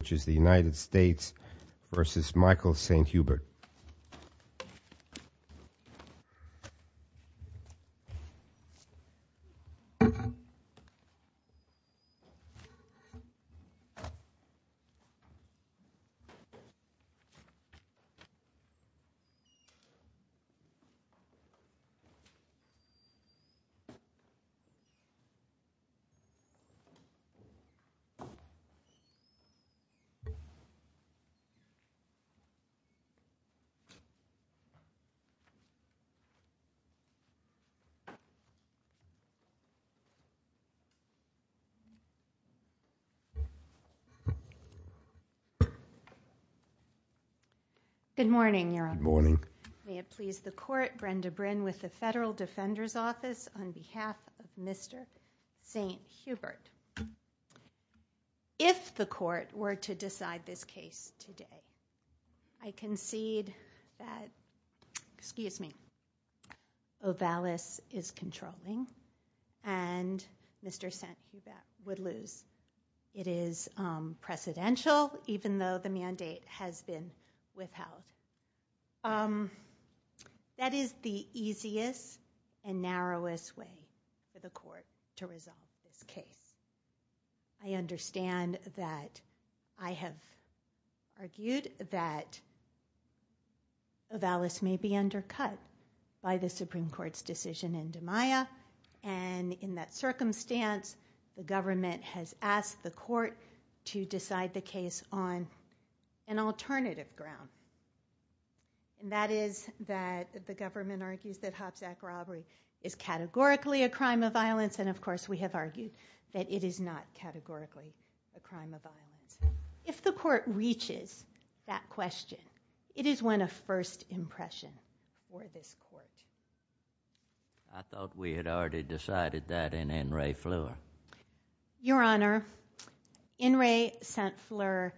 which is the United States v. Michael St. Hubert. Good morning. May it please the court, Brenda Brinn with the Federal Defender's Office on behalf of Mr. St. Hubert. If the court were to decide this case today, I concede that OVALIS is controlling and Mr. St. Hubert would lose. It is presidential even though the mandate has been withheld. That is the easiest and narrowest way for the court to resolve this case. I understand that I have argued that OVALIS may be undercut by the Supreme Court's decision in DiMaia and in that circumstance the government has asked the court to decide the case on an alternative ground. That is that the government argues that Hobbs Act robbery is categorically a crime of violence and of course we have argued that it is not categorically a crime of violence. If the court reaches that question, it is when a first impression for this court. I thought we had already decided that in Ray Fleur. Your Honor, in Ray St. Fleur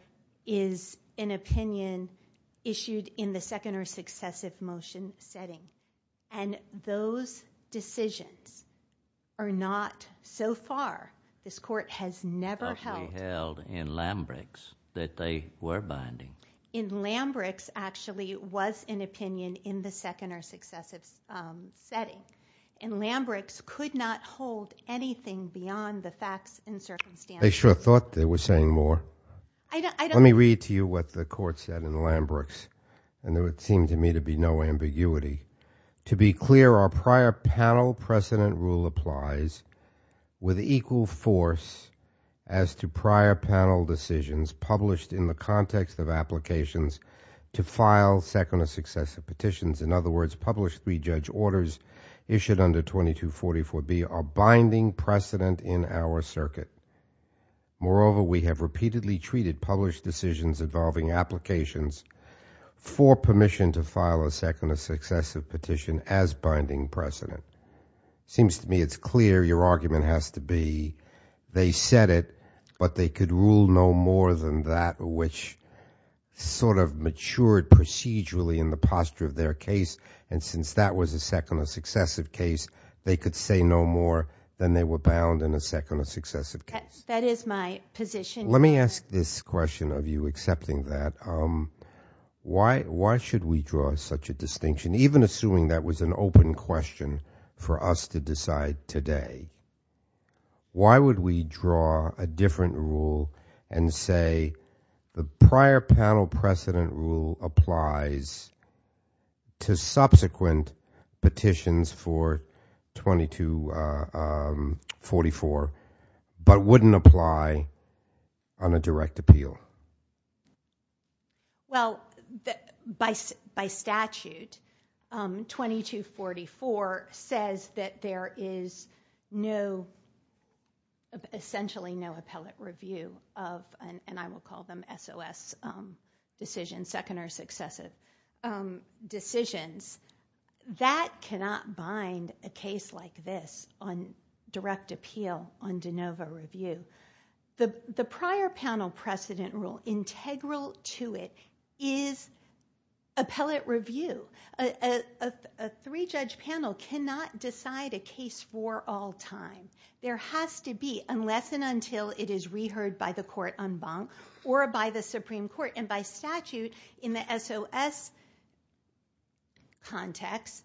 is an opinion issued in the second or successive motion setting and those decisions are not so far, this court has never held in Lambrix that they were binding. In Lambrix actually was an opinion in the second or successive setting and Lambrix could not hold anything beyond the facts and circumstances. I sure thought they were saying more. Let me read to you what the court said in Lambrix and there would seem to me to be no ambiguity. To be clear, our prior panel precedent rule applies with equal force as to prior panel decisions published in the context of applications to file second or successive petitions. In other words, published three judge orders issued under 2244B are binding precedent in our circuit. Moreover, we have repeatedly treated published decisions involving applications for permission to file a second or successive petition as binding precedent. It seems to me it is clear your argument has to be they said it, but they could rule no more than that which sort of matured procedurally in the posture of their case and since that was a second or successive case, they could say no more than they were bound in a second or successive case. That is my position. Let me ask this question of you accepting that. Why should we draw such a distinction, even assuming that was an open question for us to decide today? Why would we draw a different rule and say the prior panel precedent rule applies to subsequent petitions for 2244, but wouldn't apply on a direct appeal? Well, by statute, 2244 says that there is essentially no appellate review of, and I will call them SOS decisions, second or successive decisions. That cannot bind a case like this on direct appeal on de novo review. The prior panel precedent rule, integral to it, is appellate review. A three-judge panel cannot decide a case for all time. There has to be, unless and until it is reheard by the court en banc or by the Supreme Court, and by statute in an SOS context,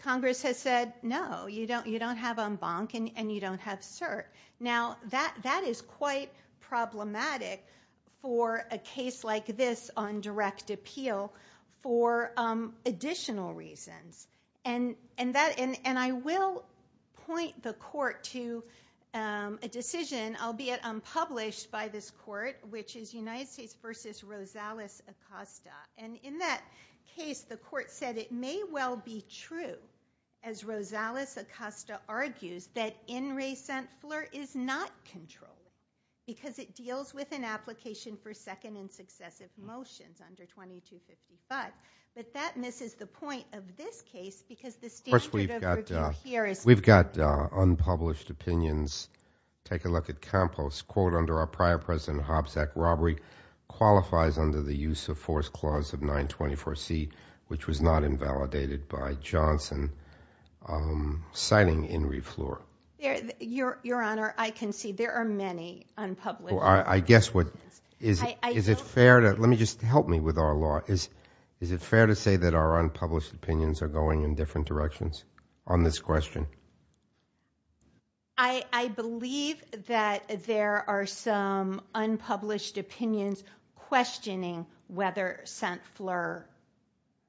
Congress has said no, you don't have en banc and you don't have cert. Now that is quite problematic for a case like this on direct appeal for additional reasons. I will point the court to a decision, albeit unpublished by this court, which is United States v. Rosales Acosta, and in that case, the court said it may well be true, as Rosales Acosta argues, that in recent FLIR is not controllable, because it deals with an application for second and successive motions under 2255, but that misses the point of this case, because the statute of review here is... We've got unpublished opinions. Take a look at Campos, quote, under our prior precedent Hobsack robbery qualifies under the use of force clause of 924C, which was not invalidated by Johnson, citing in re FLIR. Your Honor, I concede there are many unpublished... I guess what... I don't... Is it fair to... Let me just... Help me with our law. Is it fair to say that our unpublished opinions are going in different directions on this question? I believe that there are some unpublished opinions questioning whether sent FLIR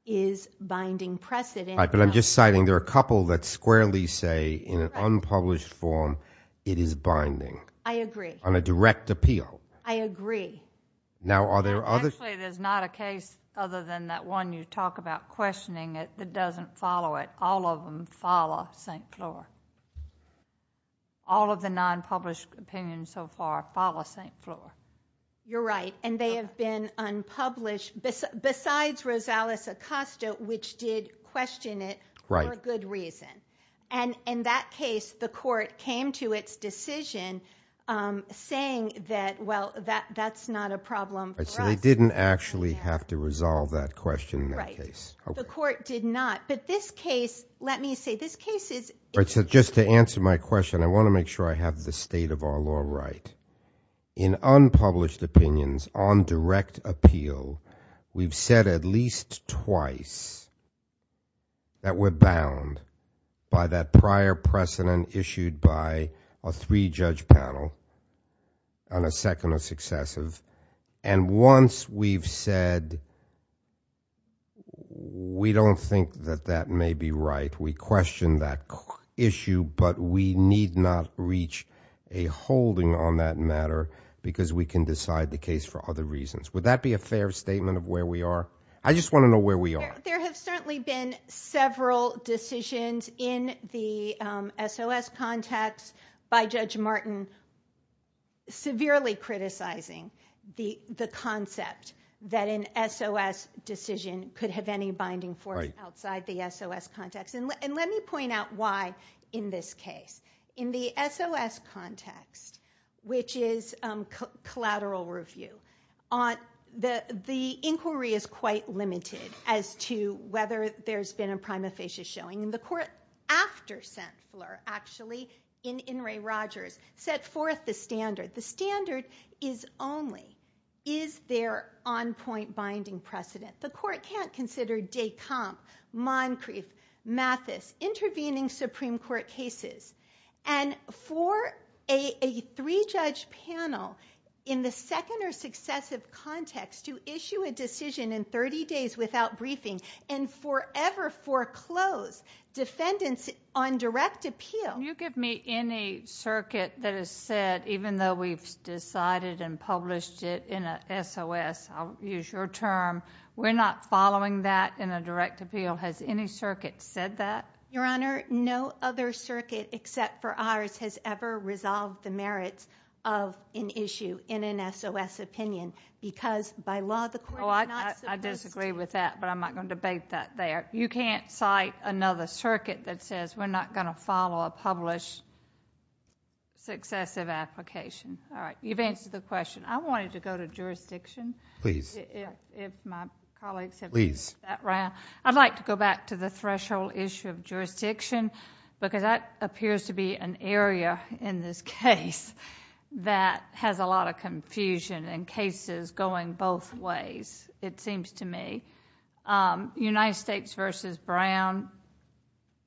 is binding precedent. All right, but I'm just citing there are a couple that squarely say in an unpublished form it is binding... I agree.... on a direct appeal. I agree. Now, are there others... Actually, there's not a case other than that one you talk about questioning it that doesn't follow it. All of them follow sent FLIR. All of the nonpublished opinions so far follow sent FLIR. You're right, and they have been unpublished besides Rosales Acosta, which did question it... Right.... for good reason. And in that case, the court came to its decision saying that, well, that's not a problem for us. Right, so they didn't actually have to resolve that question in that case. Right. The court did not. But this case, let me say, this case is... Right, so just to answer my question, I want to make sure I have the state of our law right. In unpublished opinions on direct appeal, we've said at least twice that we're bound by that prior precedent issued by a three-judge panel and a second or successive. And once we've said we don't think that that may be right, we question that issue, but we need not reach a holding on that matter because we can decide the case for other reasons. Would that be a fair statement of where we are? I just want to know where we are. There have certainly been several decisions in the SOS context by Judge Martin severely criticizing the concept that an SOS decision could have any binding force... Right.... outside the SOS context. And let me point out why in this case. In the SOS context, which is collateral review, the inquiry is quite limited as to whether there's been a prima facie showing. And the court, after Centler, actually, in Inouye Rogers, set forth the standard. The standard is only, is there on-point binding precedent? The court can't consider Descamp, Moncrief, Mathis intervening Supreme Court cases. And for a three-judge panel in the second or successive context to issue a decision in 30 days without briefing and forever foreclose defendants on direct appeal... Can you give me any circuit that has said, even though we've decided and published it in a SOS, I'll use your term, we're not following that in a direct appeal. Has any circuit said that? Your Honor, no other circuit except for ours has ever resolved the merits of an issue in an SOS opinion because, by law, the court is not supposed to... Well, I disagree with that, but I'm not going to debate that there. You can't cite another circuit that says we're not going to follow a published successive application. All right. You've answered the question. I wanted to go to jurisdiction. Please. If my colleagues have... Please.... that round. I'd like to go back to the threshold issue of jurisdiction because that appears to be an area in this case that has a lot of confusion and cases going both ways, it seems to me. United States v. Brown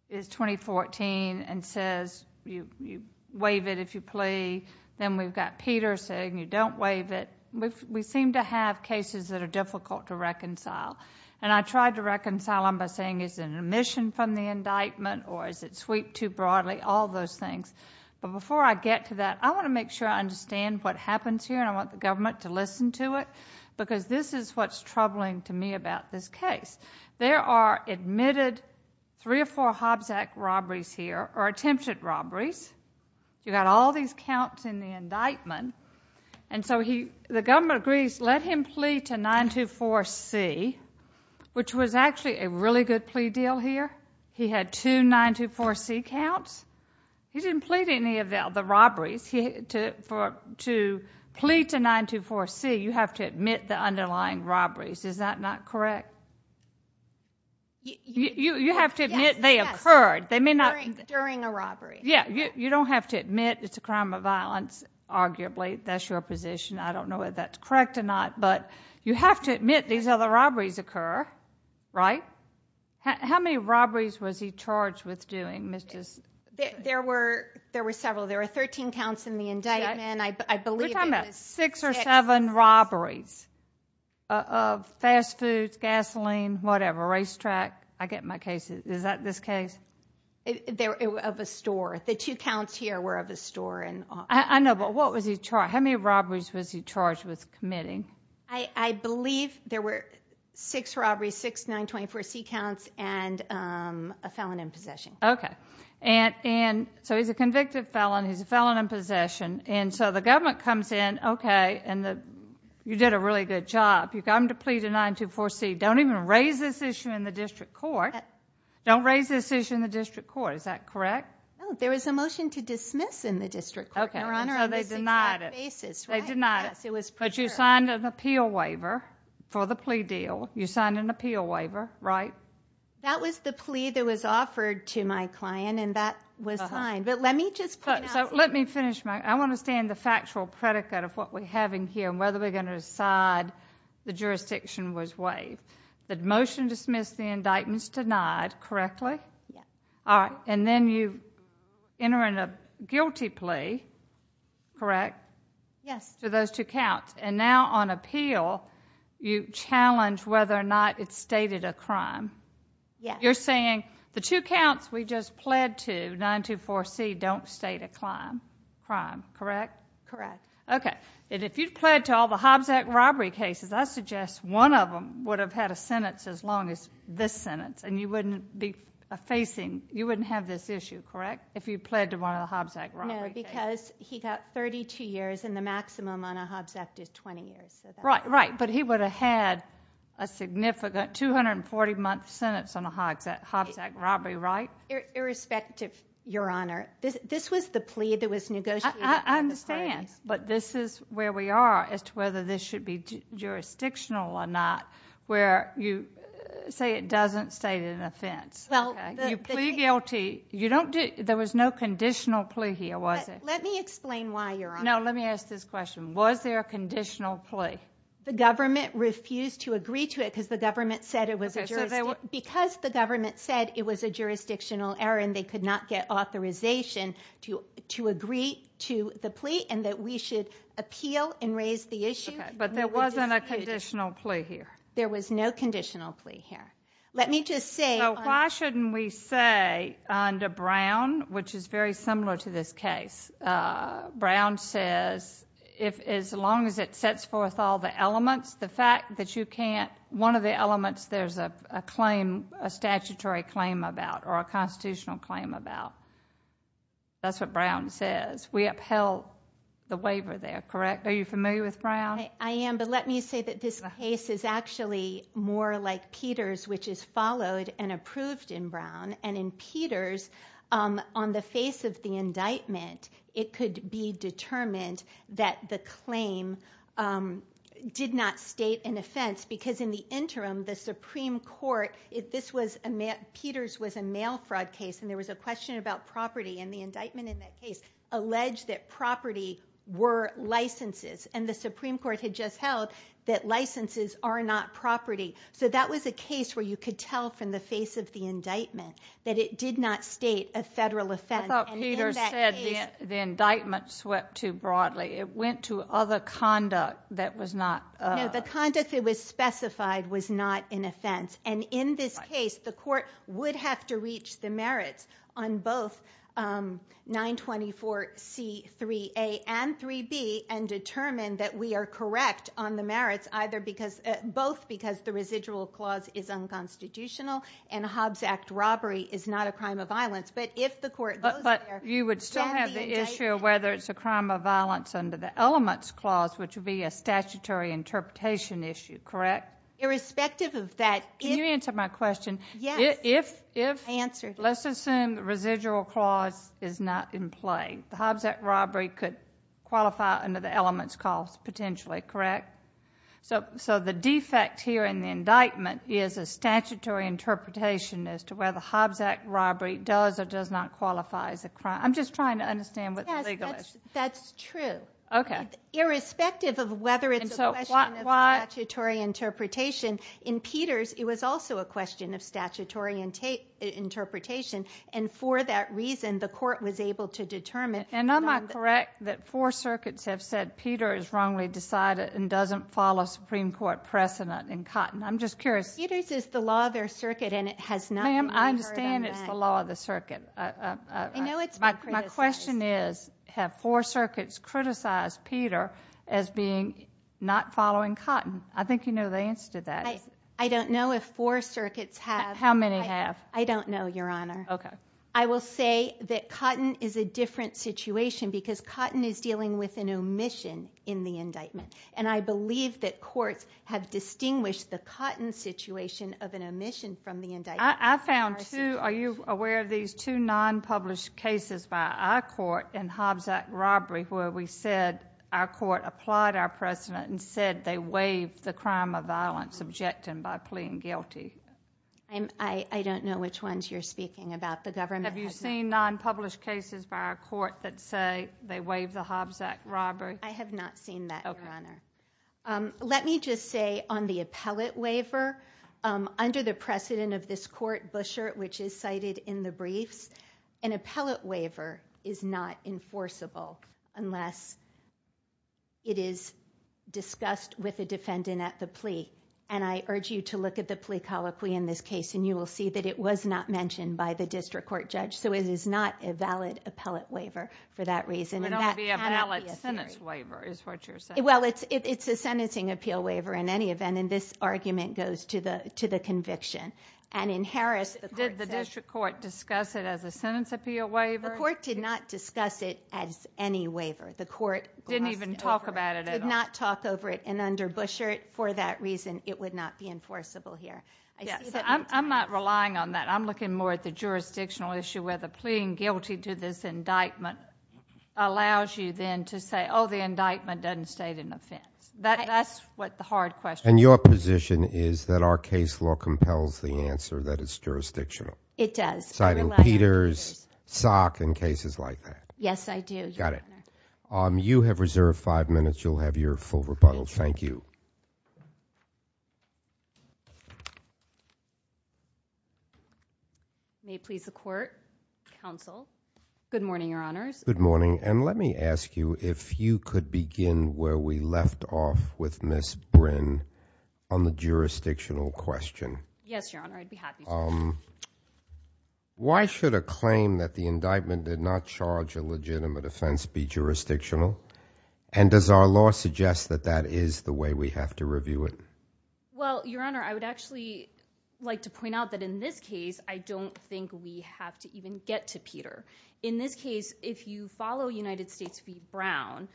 is 2014 and says you waive it if you plea. Then we've got Peter saying you don't waive it. We seem to have cases that are difficult to reconcile. I tried to reconcile them by saying is it an omission from the indictment or is it sweeped too broadly, all those things. Before I get to that, I want to make sure I understand what happens here and I want the government to listen to it because this is what's troubling to me about this case. There are admitted three or four Hobbs Act robberies here or attempted robberies. You've got all these counts in the indictment. The government agrees, let him plea to 924C, which was actually a really good plea deal here. He had two 924C counts. He didn't plea to any of the robberies. To plea to 924C, you have to admit the underlying robberies. Is that not correct? You have to admit they occurred. During a robbery. You don't have to admit it's a crime of violence, arguably. That's your position. I don't know if that's correct or not. You have to admit these other robberies occur, right? How many robberies was he charged with doing? There were several. There were 13 counts in the indictment. We're talking about six or seven robberies of fast foods, gasoline, whatever, racetrack. I get my cases. Is that this case? Of a store. The two counts here were of a store. I know, but how many robberies was he charged with committing? I believe there were six robberies, six 924C counts, and a felon in possession. Okay. He's a convicted felon. He's a felon in possession. The government comes in, okay, and you did a really good job. You got him to plea to 924C. Don't even raise this issue in the district court. Don't raise this issue in the district court. Is that correct? No. There was a motion to dismiss in the district court, Your Honor, on this exact basis. Okay. So they denied it. They denied it. Yes, it was preferred. But you signed an appeal waiver for the plea deal. You signed an appeal waiver, right? That was the plea that was offered to my client, and that was signed. But let me just point out something. So let me finish. I want to understand the factual predicate of what we're having here and whether we're going to decide the jurisdiction was waived. The motion to dismiss the indictment is denied, correctly? Yes. All right. And then you enter in a guilty plea, correct? Yes. To those two counts. And now on appeal, you challenge whether or not it's stated a crime. Yes. You're saying the two counts we just pled to, 924C, don't state a crime, correct? Correct. Okay. And if you pled to all the Hobbs Act robbery cases, I suggest one of them would have had a sentence as long as this sentence, and you wouldn't have this issue, correct, if you pled to one of the Hobbs Act robbery cases? No, because he got 32 years, and the maximum on a Hobbs Act is 20 years. Right, but he would have had a significant 240-month sentence on a Hobbs Act robbery, right? Irrespective, Your Honor. This was the plea that was negotiated. I understand. But this is where we are as to whether this should be jurisdictional or not, where you say it doesn't state an offense. You plea guilty. There was no conditional plea here, was there? Let me explain why, Your Honor. No, let me ask this question. Was there a conditional plea? The government refused to agree to it because the government said it was a jurisdictional error, and they could not get authorization to agree to the plea, and that we should appeal and raise the issue. Okay, but there wasn't a conditional plea here. There was no conditional plea here. Let me just say under Brown, which is very similar to this case, Brown says as long as it sets forth all the elements, one of the elements there's a statutory claim about or a constitutional claim about. That's what Brown says. We upheld the waiver there, correct? Are you familiar with Brown? I am, but let me say that this case is actually more like Peters, which is followed and approved in Brown. And in Peters, on the face of the indictment, it could be determined that the claim did not state an offense, because in the interim, the Supreme Court, Peters was a mail fraud case and there was a question about property, and the indictment in that case alleged that property were licenses, and the Supreme Court had just held that licenses are not property. So that was a case where you could tell from the face of the indictment that it did not state a federal offense. I thought Peters said the indictment swept too broadly. It went to other conduct that was not. No, the conduct that was specified was not an offense. And in this case, the court would have to reach the merits on both 924C3A and 3B and determine that we are correct on the merits, both because the residual clause is unconstitutional and a Hobbs Act robbery is not a crime of violence. But if the court goes there, you would still have the issue of whether it's a crime of violence under the elements clause, which would be a statutory interpretation issue, correct? Irrespective of that. Can you answer my question? Let's assume the residual clause is not in play. The Hobbs Act robbery could qualify under the elements clause potentially, correct? So the defect here in the indictment is a statutory interpretation as to whether the Hobbs Act robbery does or does not qualify as a crime. I'm just trying to understand what the legal issue is. That's true. Irrespective of whether it's a question of statutory interpretation, in Peters it was also a question of statutory interpretation, and for that reason the court was able to determine... And am I correct that four circuits have said Peter is wrongly decided and doesn't follow Supreme Court precedent in Cotton? I'm just curious. Peters is the law of their circuit and it has not been heard on that. Ma'am, I understand it's the law of the circuit. I know it's been criticized. My question is, have four circuits criticized Peter as being not following Cotton? I think you know the answer to that. I don't know if four circuits have. How many have? I don't know, Your Honor. Okay. I will say that Cotton is a different situation because Cotton is dealing with an omission in the indictment, and I believe that courts have distinguished the Cotton situation of an omission from the indictment. I found two, are you aware of these two non-published cases by our court in Hobbs Act robbery where we said our court applied our precedent and said they waived the crime of violence objecting by plea and guilty? I don't know which ones you're speaking about. The government has not. Have you seen non-published cases by our court that say they waived the Hobbs Act robbery? I have not seen that, Your Honor. Let me just say on the appellate waiver, under the precedent of this court, Bushert, which is cited in the briefs, an appellate waiver is not enforceable unless it is discussed with the defendant at the plea, and I urge you to look at the plea colloquy in this case and you will see that it was not mentioned by the district court judge, so it is not a valid appellate waiver for that reason. It cannot be a valid sentence waiver is what you're saying. Well, it's a sentencing appeal waiver in any event, and this argument goes to the conviction. Did the district court discuss it as a sentence appeal waiver? The court did not discuss it as any waiver. The court did not talk over it, and under Bushert, for that reason, it would not be enforceable here. I'm not relying on that. I'm looking more at the jurisdictional issue where the pleading guilty to this indictment allows you then to say, oh, the indictment doesn't state an offense. That's what the hard question is. And your position is that our case law compels the answer that it's jurisdictional? It does. Citing Peters, Salk, and cases like that. Yes, I do, Your Honor. Got it. You have reserved 5 minutes. You'll have your full rebuttal. Thank you. May it please the court, counsel. Good morning, Your Honors. Good morning, and let me ask you if you could begin where we left off with Ms. Bryn on the jurisdictional question. Yes, Your Honor, I'd be happy to. Why should a claim that the indictment did not charge a legitimate offense be jurisdictional? And does our law suggest that that is the way we have to review it? Well, Your Honor, I would actually like to point out that in this case, I don't think we have to even get to Peter. In this case, if you follow United States v. Brown,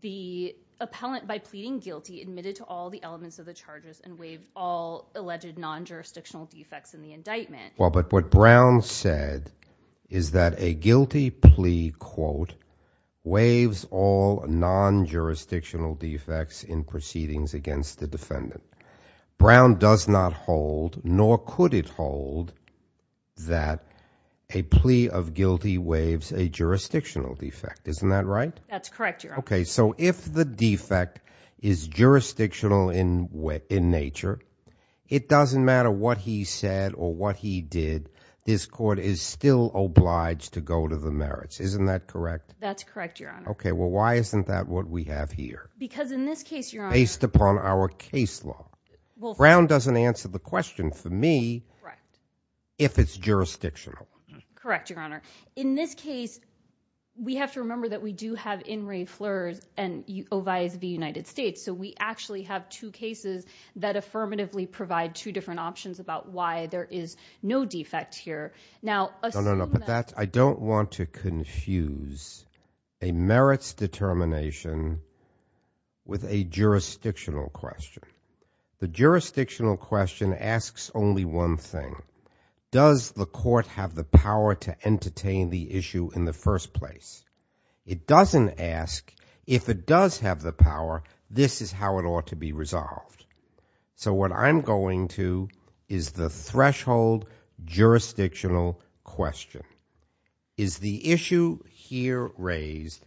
the appellant by pleading guilty admitted to all the elements of the charges and waived all alleged non-jurisdictional defects in the indictment. Well, but what Brown said is that a guilty plea, quote, waives all non-jurisdictional defects in proceedings against the defendant. Brown does not hold, nor could it hold, that a plea of guilty waives a jurisdictional defect. Isn't that right? That's correct, Your Honor. Okay, so if the defect is jurisdictional in nature, it doesn't matter what he said or what he did. This court is still obliged to go to the merits. Isn't that correct? That's correct, Your Honor. Okay, well, why isn't that what we have here? Because in this case, Your Honor. Based upon our case law. Brown doesn't answer the question, for me, if it's jurisdictional. Correct, Your Honor. In this case, we have to remember that we do have In re Fleurs and Oviatt v. United States. So we actually have two cases that affirmatively provide two different options about why there is no defect here. No, no, no. I don't want to confuse a merits determination with a jurisdictional question. The jurisdictional question asks only one thing. Does the court have the power to entertain the issue in the first place? It doesn't ask, if it does have the power, this is how it ought to be resolved. So what I'm going to is the threshold jurisdictional question. Is the issue here raised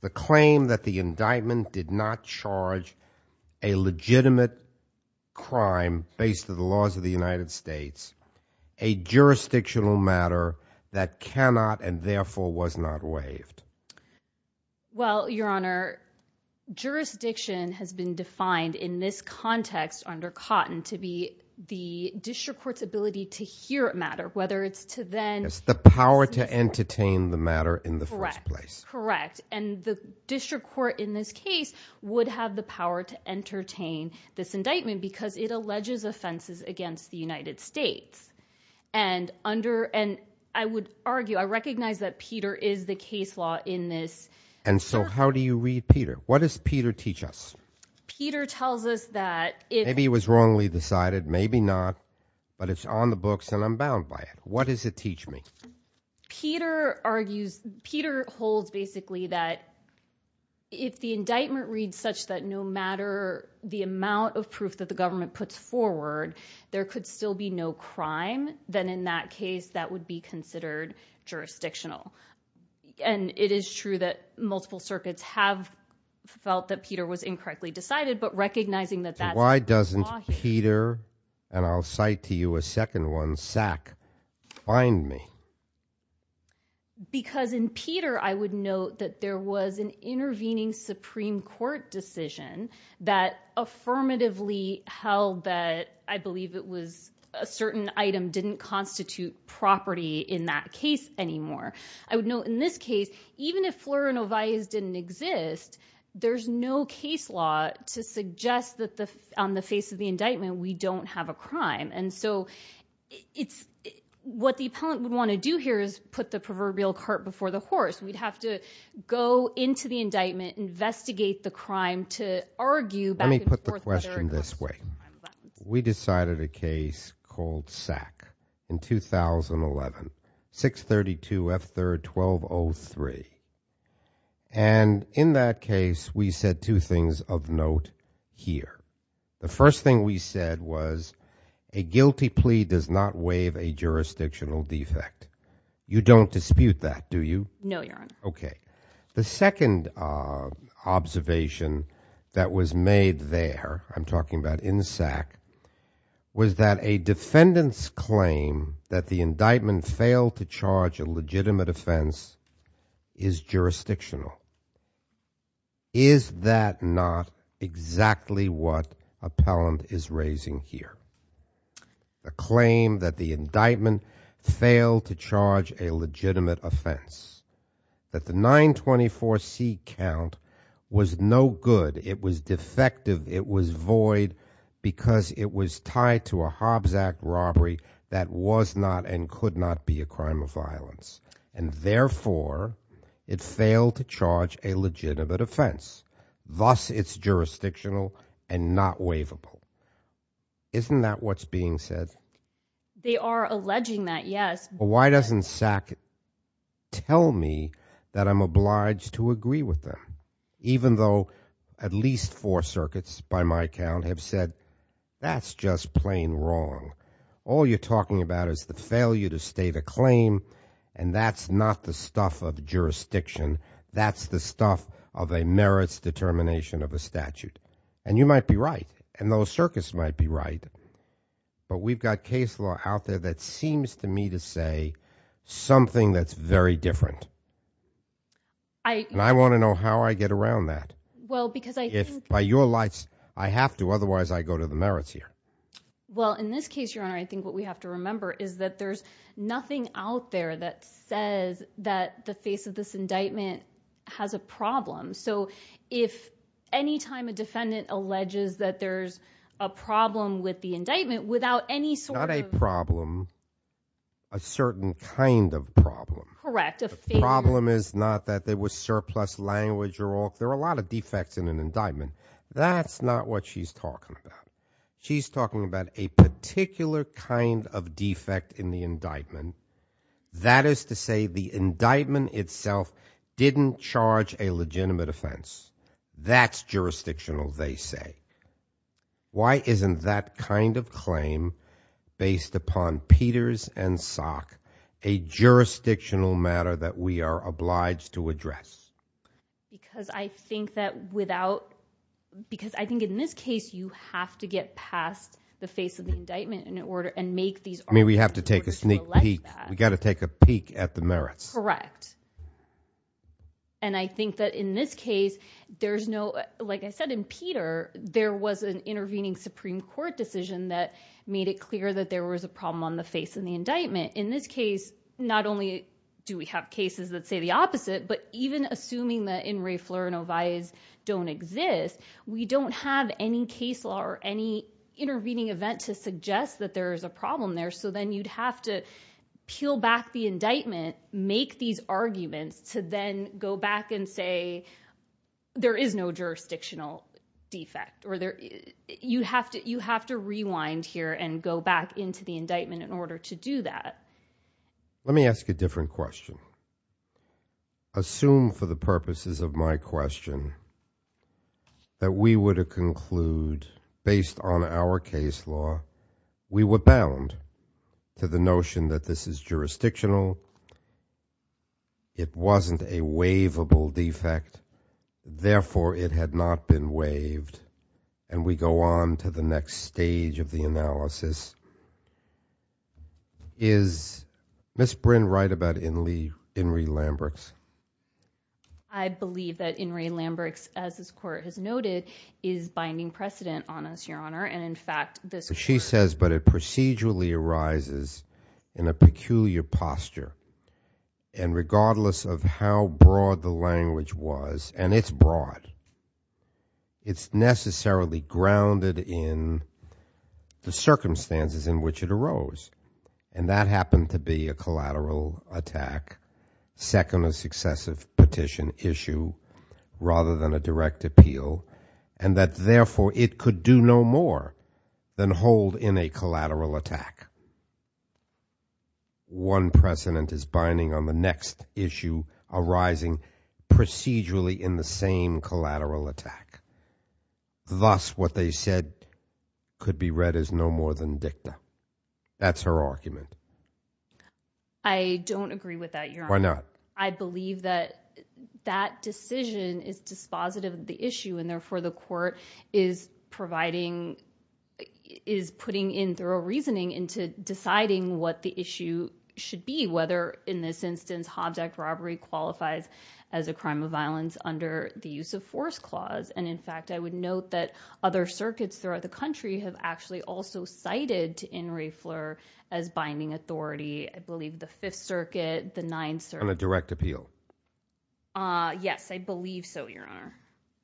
the claim that the indictment did not charge a legitimate crime based on the laws of the United States, a jurisdictional matter that cannot and therefore was not waived? Well, Your Honor, jurisdiction has been defined in this context under Cotton to be the district court's ability to hear a matter, whether it's to then It's the power to entertain the matter in the first place. Correct, and the district court in this case would have the power to entertain this indictment because it alleges offenses against the United States. And I would argue, I recognize that Peter is the case law in this. And so how do you read Peter? What does Peter teach us? Peter tells us that if... Maybe it was wrongly decided, maybe not, but it's on the books and I'm bound by it. What does it teach me? Peter argues, Peter holds basically that if the indictment reads such that no matter the amount of proof that the government puts forward, there could still be no crime, then in that case that would be considered jurisdictional. And it is true that multiple circuits have felt that Peter was incorrectly decided, but recognizing that... Why doesn't Peter, and I'll cite to you a second one, SAC, find me? Because in Peter I would note that there was an intervening Supreme Court decision that affirmatively held that, I believe it was, a certain item didn't constitute property in that case anymore. I would note in this case, even if Flora and Ovias didn't exist, there's no case law to suggest that on the face of the indictment we don't have a crime. And so what the appellant would want to do here is put the proverbial cart before the horse. We'd have to go into the indictment, investigate the crime to argue back and forth whether it was a crime or not. Let me put the question this way. We decided a case called SAC in 2011. 632 F3rd 1203. And in that case we said two things of note here. The first thing we said was a guilty plea does not waive a jurisdictional defect. You don't dispute that, do you? No, Your Honor. Okay. The second observation that was made there, I'm talking about in SAC, was that a defendant's claim that the indictment failed to charge a legitimate offense is jurisdictional. Is that not exactly what appellant is raising here? The claim that the indictment failed to charge a legitimate offense, that the 924C count was no good, it was defective, it was void, because it was tied to a Hobbs Act robbery that was not and could not be a crime of violence. And therefore, it failed to charge a legitimate offense. Thus, it's jurisdictional and not waivable. Isn't that what's being said? They are alleging that, yes. But why doesn't SAC tell me that I'm obliged to agree with them? Even though at least four circuits, by my count, have said, that's just plain wrong. All you're talking about is the failure to state a claim, and that's not the stuff of jurisdiction. That's the stuff of a merits determination of a statute. And you might be right. And those circuits might be right. But we've got case law out there that seems to me to say something that's very different. And I want to know how I get around that. If, by your lights, I have to, otherwise I go to the merits here. Well, in this case, Your Honor, I think what we have to remember is that there's nothing out there that says that the face of this indictment has a problem. So if any time a defendant alleges that there's a problem with the indictment, without any sort of... Not a problem. A certain kind of problem. Correct. A failure. The problem is not that there was surplus language or all. There are a lot of defects in an indictment. That's not what she's talking about. She's talking about a particular kind of defect in the indictment. That is to say, the indictment itself didn't charge a legitimate offense. That's jurisdictional, they say. Why isn't that kind of claim, based upon Peters and Sock, a jurisdictional matter that we are obliged to address? Because I think that without... Because I think in this case, you have to get past the face of the indictment and make these arguments in order to elect that. We have to take a sneak peek. We've got to take a peek at the merits. Correct. And I think that in this case, there's no... Like I said, in Peter, there was an intervening Supreme Court decision that made it clear that there was a problem on the face of the indictment. In this case, not only do we have cases that say the opposite, but even assuming that in re flir no vis don't exist, we don't have any case law or any intervening event to suggest that there is a problem there. So then you'd have to peel back the indictment, make these arguments to then go back and say, there is no jurisdictional defect. You have to rewind here and go back into the indictment in order to do that. Let me ask a different question. Assume for the purposes of my question that we were to conclude, based on our case law, we were bound to the notion that this is jurisdictional, it wasn't a waivable defect, therefore it had not been waived, and we go on to the next stage of the analysis. Is Ms. Bryn right about In re Lambricks? I believe that In re Lambricks, as this Court has noted, is binding precedent on us, Your Honor, and in fact this Court... She says, but it procedurally arises in a peculiar posture, and regardless of how broad the language was, and it's broad, it's necessarily grounded in the circumstances in which it arose, and that happened to be a collateral attack, second or successive petition issue, rather than a direct appeal, and that therefore it could do no more than hold in a collateral attack. One precedent is binding on the next issue arising procedurally in the same collateral attack. Thus, what they said could be read as no more than dicta. That's her argument. I don't agree with that, Your Honor. Why not? I believe that that decision is dispositive of the issue, and therefore the Court is providing... is putting in thorough reasoning into deciding what the issue should be, whether in this instance Hobbs Act robbery qualifies as a crime of violence under the Use of Force Clause, and in fact I would note that other circuits throughout the country have actually also cited In re Fleur as binding authority. I believe the Fifth Circuit, the Ninth Circuit... On a direct appeal. Yes, I believe so, Your Honor.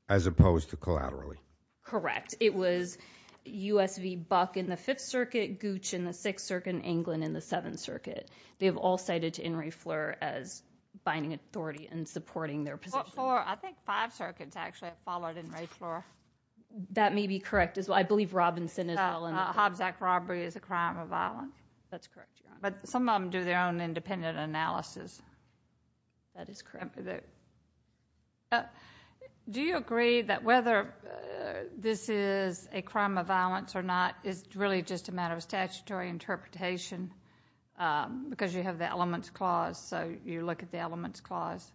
As opposed to collaterally. Correct. It was U.S. v. Buck in the Fifth Circuit, Gooch in the Sixth Circuit, and England in the Seventh Circuit. They have all cited In re Fleur as binding authority and supporting their position. I think five circuits actually have followed In re Fleur. That may be correct as well. I believe Robinson as well. Hobbs Act robbery is a crime of violence. That's correct, Your Honor. But some of them do their own independent analysis. That is correct. Do you agree that whether this is a crime of violence or not is really just a matter of statutory interpretation because you have the Elements Clause, so you look at the Elements Clause?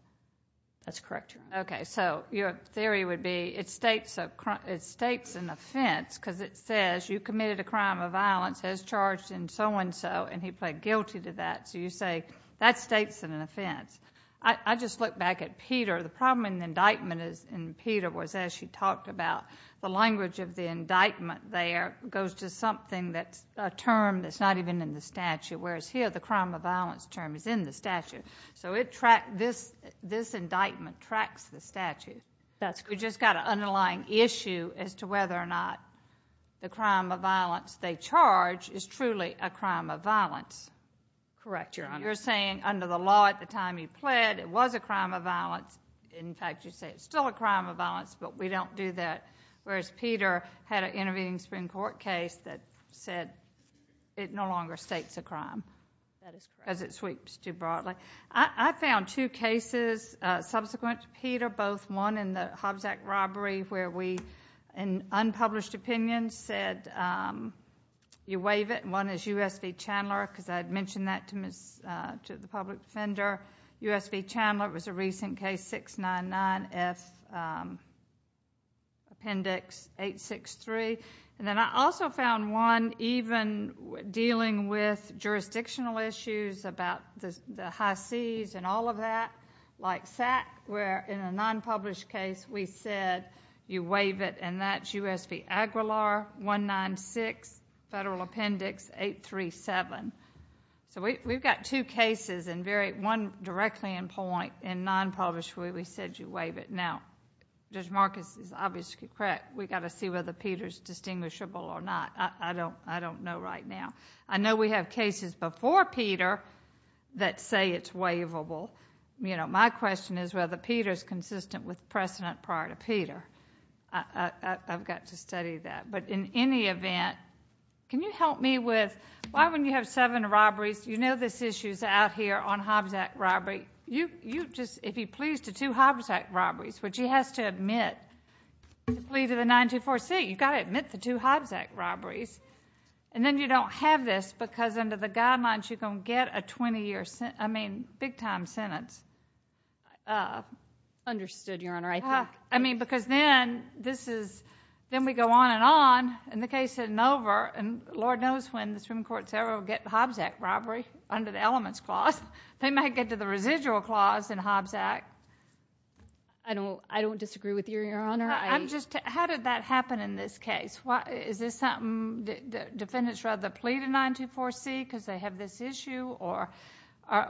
That's correct, Your Honor. Okay, so your theory would be it states an offense because it says you committed a crime of violence, has charged in so-and-so, and he pled guilty to that. So you say that states an offense. I just look back at Peter. The problem in the indictment in Peter was, as she talked about, the language of the indictment there goes to something that's a term that's not even in the statute, whereas here the crime of violence term is in the statute. So this indictment tracks the statute. We've just got an underlying issue as to whether or not the crime of violence they charge is truly a crime of violence. Correct, Your Honor. You're saying under the law at the time he pled it was a crime of violence. In fact, you say it's still a crime of violence, but we don't do that, whereas Peter had an intervening Supreme Court case that said it no longer states a crime because it sweeps too broadly. I found two cases subsequent to Peter, both one in the Hobbs Act robbery where we, in unpublished opinions, said you waive it, and one is U.S. v. Chandler because I had mentioned that to the public defender. U.S. v. Chandler was a recent case, 699F Appendix 863. Then I also found one even dealing with jurisdictional issues about the high seas and all of that, like SAC, where in a nonpublished case we said you waive it, and that's U.S. v. Aguilar, 196 Federal Appendix 837. We've got two cases, and one directly in point, in nonpublished where we said you waive it. Now, Judge Marcus is obviously correct. We've got to see whether Peter is distinguishable or not. I don't know right now. I know we have cases before Peter that say it's waivable. My question is whether Peter is consistent with precedent prior to Peter. I've got to study that. But in any event, can you help me with why, when you have seven robberies, you know this issue is out here on Hobbs Act robbery. If he pleads to two Hobbs Act robberies, which he has to admit, plead to the 924C, you've got to admit the two Hobbs Act robberies, and then you don't have this because under the guidelines you're going to get a 20-year sentence, I mean big-time sentence. Understood, Your Honor. I mean, because then we go on and on, and the case isn't over, and Lord knows when the Supreme Court will get the Hobbs Act robbery under the elements clause. They might get to the residual clause in Hobbs Act. I don't disagree with you, Your Honor. How did that happen in this case? Is this something the defendants rather plead to 924C because they have this issue, or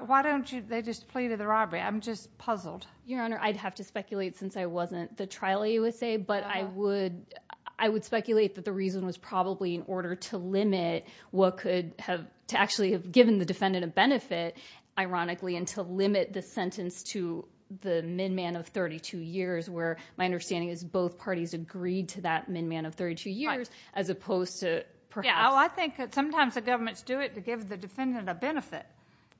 why don't they just plead to the robbery? I'm just puzzled. Your Honor, I'd have to speculate since I wasn't the trial USA, but I would speculate that the reason was probably in order to limit what could have actually given the defendant a benefit, ironically, and to limit the sentence to the minman of 32 years, where my understanding is both parties agreed to that minman of 32 years as opposed to perhaps. Yeah, well, I think that sometimes the governments do it to give the defendant a benefit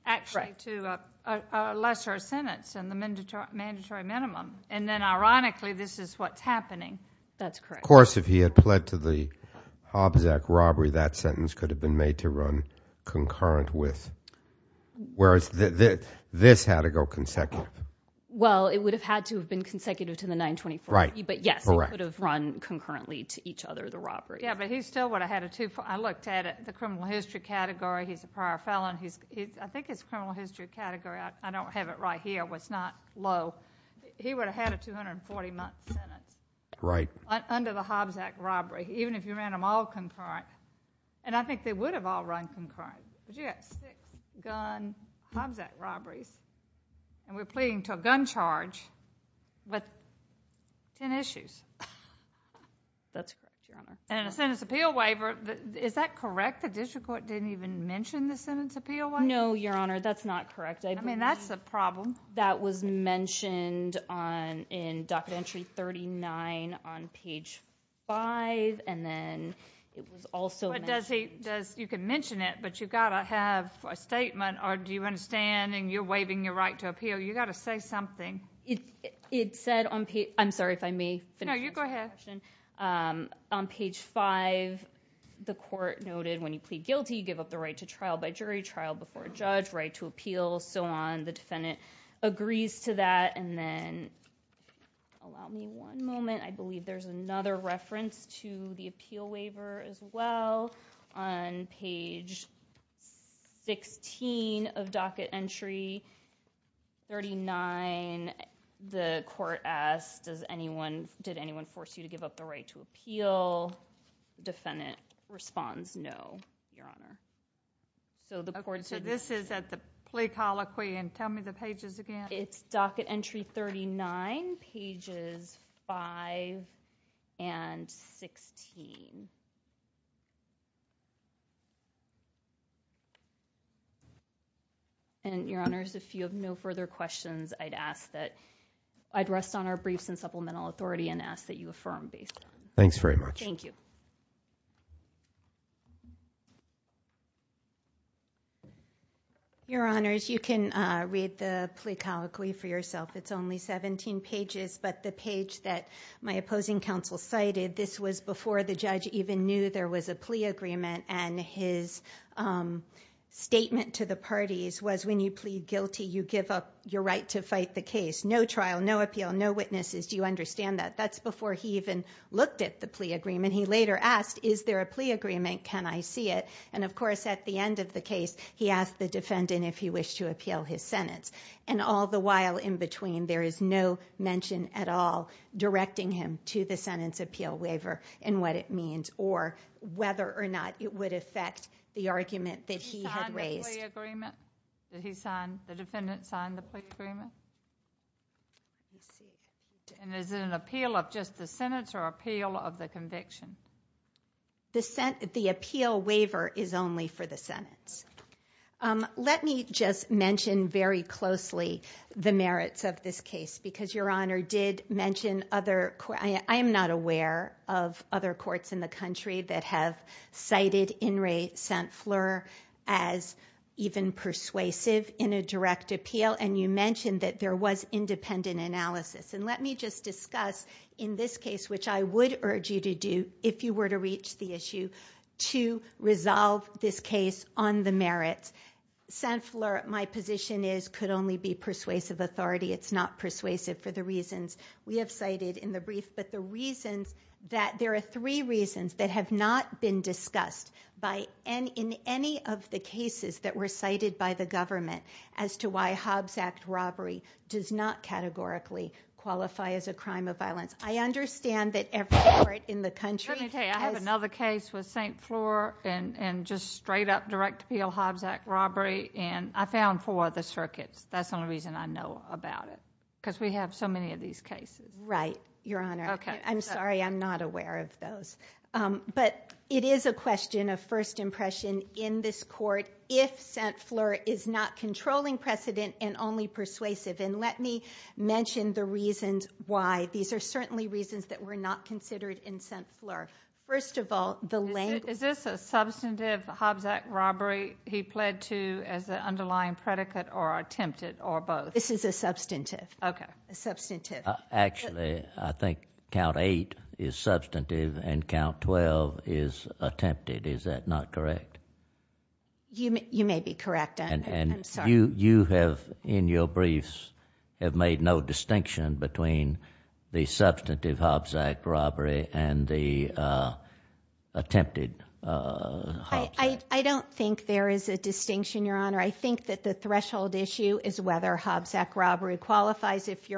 actually to a lesser sentence and the mandatory minimum, and then ironically this is what's happening. That's correct. Of course, if he had pled to the Hobbs Act robbery, that sentence could have been made to run concurrent with, whereas this had to go consecutive. Well, it would have had to have been consecutive to the 924C, but yes, it could have run concurrently to each other, the robbery. Yeah, but he still would have had a twofold. I looked at it. The criminal history category, he's a prior felon. I think his criminal history category, I don't have it right here, was not low. He would have had a 240-month sentence. Right. Under the Hobbs Act robbery, even if you ran them all concurrent, and I think they would have all run concurrent, but yes, gun, Hobbs Act robberies, and we're pleading to a gun charge with 10 issues. That's correct, Your Honor. And a sentence appeal waiver, is that correct? The district court didn't even mention the sentence appeal waiver? No, Your Honor, that's not correct. I mean, that's a problem. That was mentioned in Docket Entry 39 on page 5, and then it was also mentioned. You can mention it, but you've got to have a statement, or do you understand, and you're waiving your right to appeal, you've got to say something. It said on page 5, the court noted when you plead guilty, you give up the right to trial by jury, trial before a judge, right to appeal, so on, the defendant agrees to that, and then, allow me one moment, I believe there's another reference to the appeal waiver as well. On page 16 of Docket Entry 39, the court asked, did anyone force you to give up the right to appeal? Defendant responds, no, Your Honor. Okay, so this is at the plea colloquy, and tell me the pages again. It's Docket Entry 39, pages 5 and 16. And, Your Honors, if you have no further questions, I'd rest on our briefs in supplemental authority and ask that you affirm these. Thanks very much. Thank you. Your Honors, you can read the plea colloquy for yourself. It's only 17 pages, but the page that my opposing counsel cited, this was before the judge even knew there was a plea agreement, and his statement to the parties was when you plead guilty, you give up your right to fight the case. No trial, no appeal, no witnesses. Do you understand that? That's before he even looked at the plea agreement. He later asked, is there a plea agreement? Can I see it? And, of course, at the end of the case, he asked the defendant if he wished to appeal his sentence. And all the while in between, there is no mention at all directing him to the sentence appeal waiver and what it means or whether or not it would affect the argument that he had raised. Did he sign the plea agreement? Did the defendant sign the plea agreement? And is it an appeal of just the sentence or appeal of the conviction? The appeal waiver is only for the sentence. Let me just mention very closely the merits of this case because Your Honor did mention other courts. I am not aware of other courts in the country that have cited In re St. Fleur as even persuasive in a direct appeal, and you mentioned that there was independent analysis. And let me just discuss in this case, which I would urge you to do if you were to reach the issue, to resolve this case on the merits. St. Fleur, my position is, could only be persuasive authority. It's not persuasive for the reasons we have cited in the brief. But the reasons that there are three reasons that have not been discussed in any of the cases that were cited by the government as to why Hobbs Act robbery does not categorically qualify as a crime of violence. I understand that every court in the country. I have another case with St. Fleur and just straight-up direct appeal Hobbs Act robbery, and I found four other circuits. That's the only reason I know about it because we have so many of these cases. Right, Your Honor. I'm sorry, I'm not aware of those. But it is a question of first impression in this court if St. Fleur is not controlling precedent and only persuasive. And let me mention the reasons why. These are certainly reasons that were not considered in St. Fleur. First of all, the language. Is this a substantive Hobbs Act robbery he pled to as an underlying predicate or attempted, or both? This is a substantive. Okay. A substantive. Actually, I think Count 8 is substantive and Count 12 is attempted. Is that not correct? You may be correct. I'm sorry. And you have, in your briefs, have made no distinction between the substantive Hobbs Act robbery and the attempted Hobbs Act. I don't think there is a distinction, Your Honor. I think that the threshold issue is whether Hobbs Act robbery qualifies. If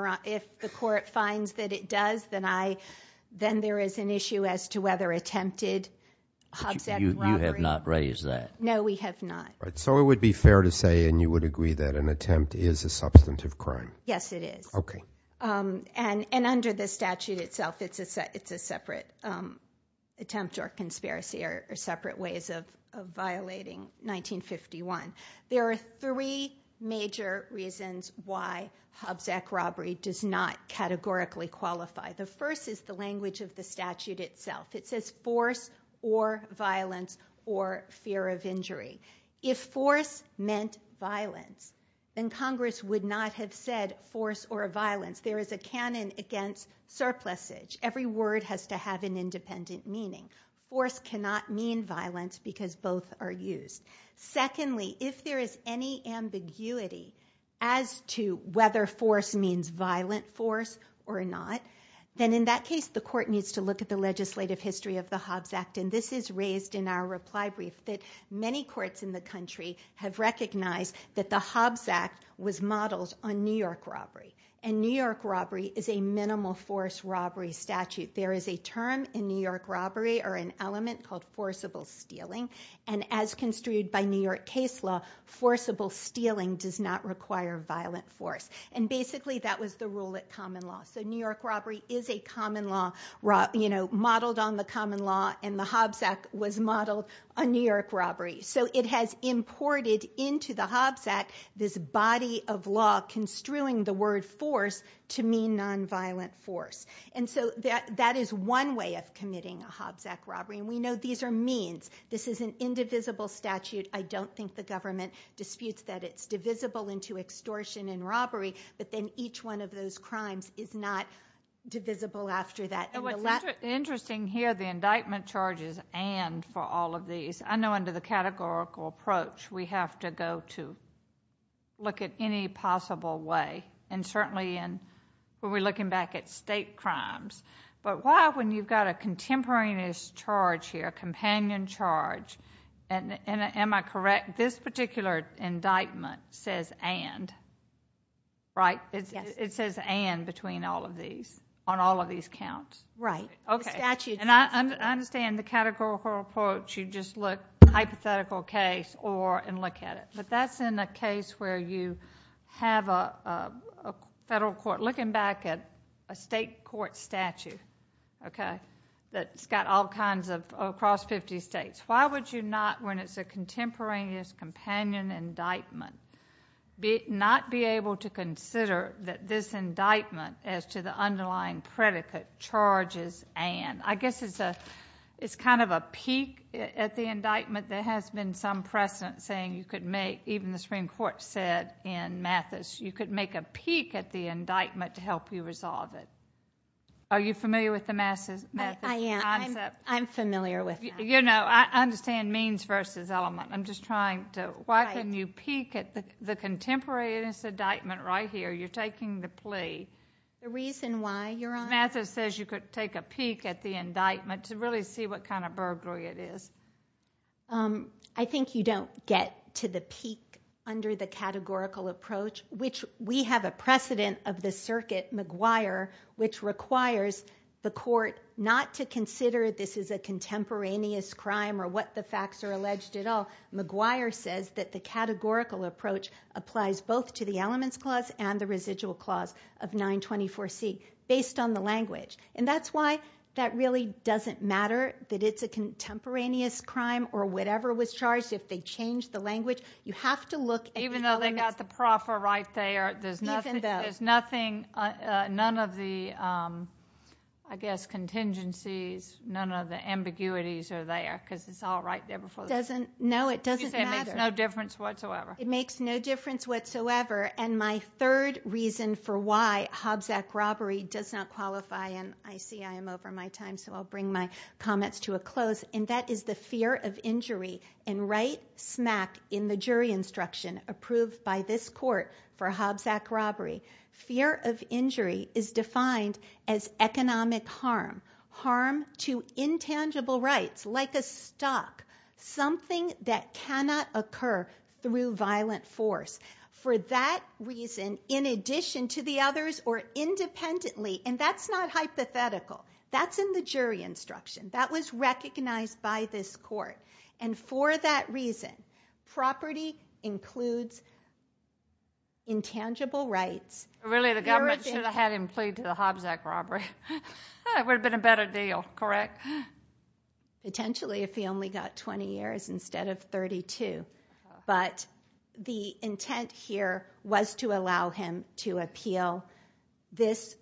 the court finds that it does, then there is an issue as to whether attempted Hobbs Act robbery You have not raised that. No, we have not. So it would be fair to say, and you would agree, that an attempt is a substantive crime. Yes, it is. Okay. And under the statute itself, it's a separate attempt or conspiracy or separate ways of violating 1951. There are three major reasons why Hobbs Act robbery does not categorically qualify. The first is the language of the statute itself. It says force or violence or fear of injury. If force meant violence, then Congress would not have said force or violence. There is a canon against surplusage. Every word has to have an independent meaning. Force cannot mean violence because both are used. Secondly, if there is any ambiguity as to whether force means violent force or not, then in that case the court needs to look at the legislative history of the Hobbs Act. And this is raised in our reply brief that many courts in the country have recognized that the Hobbs Act was modeled on New York robbery. And New York robbery is a minimal force robbery statute. There is a term in New York robbery or an element called forcible stealing. And as construed by New York case law, forcible stealing does not require violent force. And basically that was the rule at common law. So New York robbery is a common law modeled on the common law and the Hobbs Act was modeled on New York robbery. So it has imported into the Hobbs Act this body of law construing the word force to mean nonviolent force. And so that is one way of committing a Hobbs Act robbery. And we know these are means. This is an indivisible statute. I don't think the government disputes that it's divisible into extortion and robbery. But then each one of those crimes is not divisible after that. And what's interesting here, the indictment charges and for all of these. I know under the categorical approach we have to go to look at any possible way. And certainly when we're looking back at state crimes. But why when you've got a contemporaneous charge here, companion charge, and am I correct, this particular indictment says and, right? Yes. It says and between all of these, on all of these counts. Right. Okay. The statute. And I understand the categorical approach, you just look hypothetical case and look at it. But that's in a case where you have a federal court looking back at a state court statute, okay, that's got all kinds of across 50 states. Why would you not, when it's a contemporaneous companion indictment, not be able to consider that this indictment as to the underlying predicate charges and? I guess it's kind of a peak at the indictment. There has been some precedent saying you could make, even the Supreme Court said in Mathis, you could make a peak at the indictment to help you resolve it. Are you familiar with the Mathis concept? I am. I'm familiar with that. You know, I understand means versus element. I'm just trying to, why couldn't you peak at the contemporaneous indictment right here? You're taking the plea. The reason why, Your Honor? Mathis says you could take a peak at the indictment to really see what kind of burglary it is. I think you don't get to the peak under the categorical approach, which we have a precedent of the circuit, McGuire, which requires the court not to consider this is a contemporaneous crime or what the facts are alleged at all. McGuire says that the categorical approach applies both to the elements clause and the residual clause of 924C based on the language. And that's why that really doesn't matter that it's a contemporaneous crime or whatever was charged. If they change the language, you have to look at the elements. Even though they got the proffer right there. Even though. There's nothing, none of the, I guess, contingencies, none of the ambiguities are there because it's all right there before the court. No, it doesn't matter. She said it makes no difference whatsoever. It makes no difference whatsoever. And my third reason for why Hobbs Act robbery does not qualify, and I see I am over my time so I'll bring my comments to a close, and that is the fear of injury and right smack in the jury instruction approved by this court for Hobbs Act robbery. Fear of injury is defined as economic harm, harm to intangible rights like a stock, something that cannot occur through violent force. For that reason, in addition to the others or independently, and that's not hypothetical. That's in the jury instruction. That was recognized by this court. And for that reason, property includes intangible rights. Really, the government should have had him plead to the Hobbs Act robbery. That would have been a better deal, correct? Potentially, if he only got 20 years instead of 32. But the intent here was to allow him to appeal this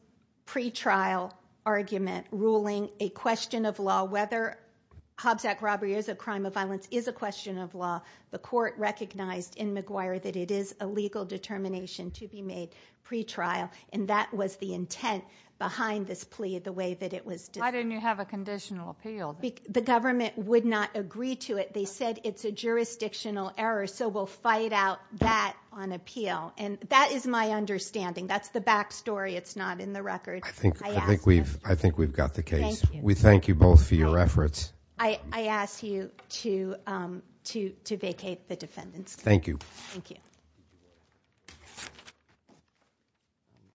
pretrial argument, ruling a question of law, whether Hobbs Act robbery is a crime of violence, is a question of law. The court recognized in McGuire that it is a legal determination to be made pretrial, and that was the intent behind this plea, the way that it was. Why didn't you have a conditional appeal? The government would not agree to it. They said it's a jurisdictional error, so we'll fight out that on appeal. And that is my understanding. That's the back story. It's not in the record. I think we've got the case. We thank you both for your efforts. I ask you to vacate the defendant's case. Thank you. Thank you.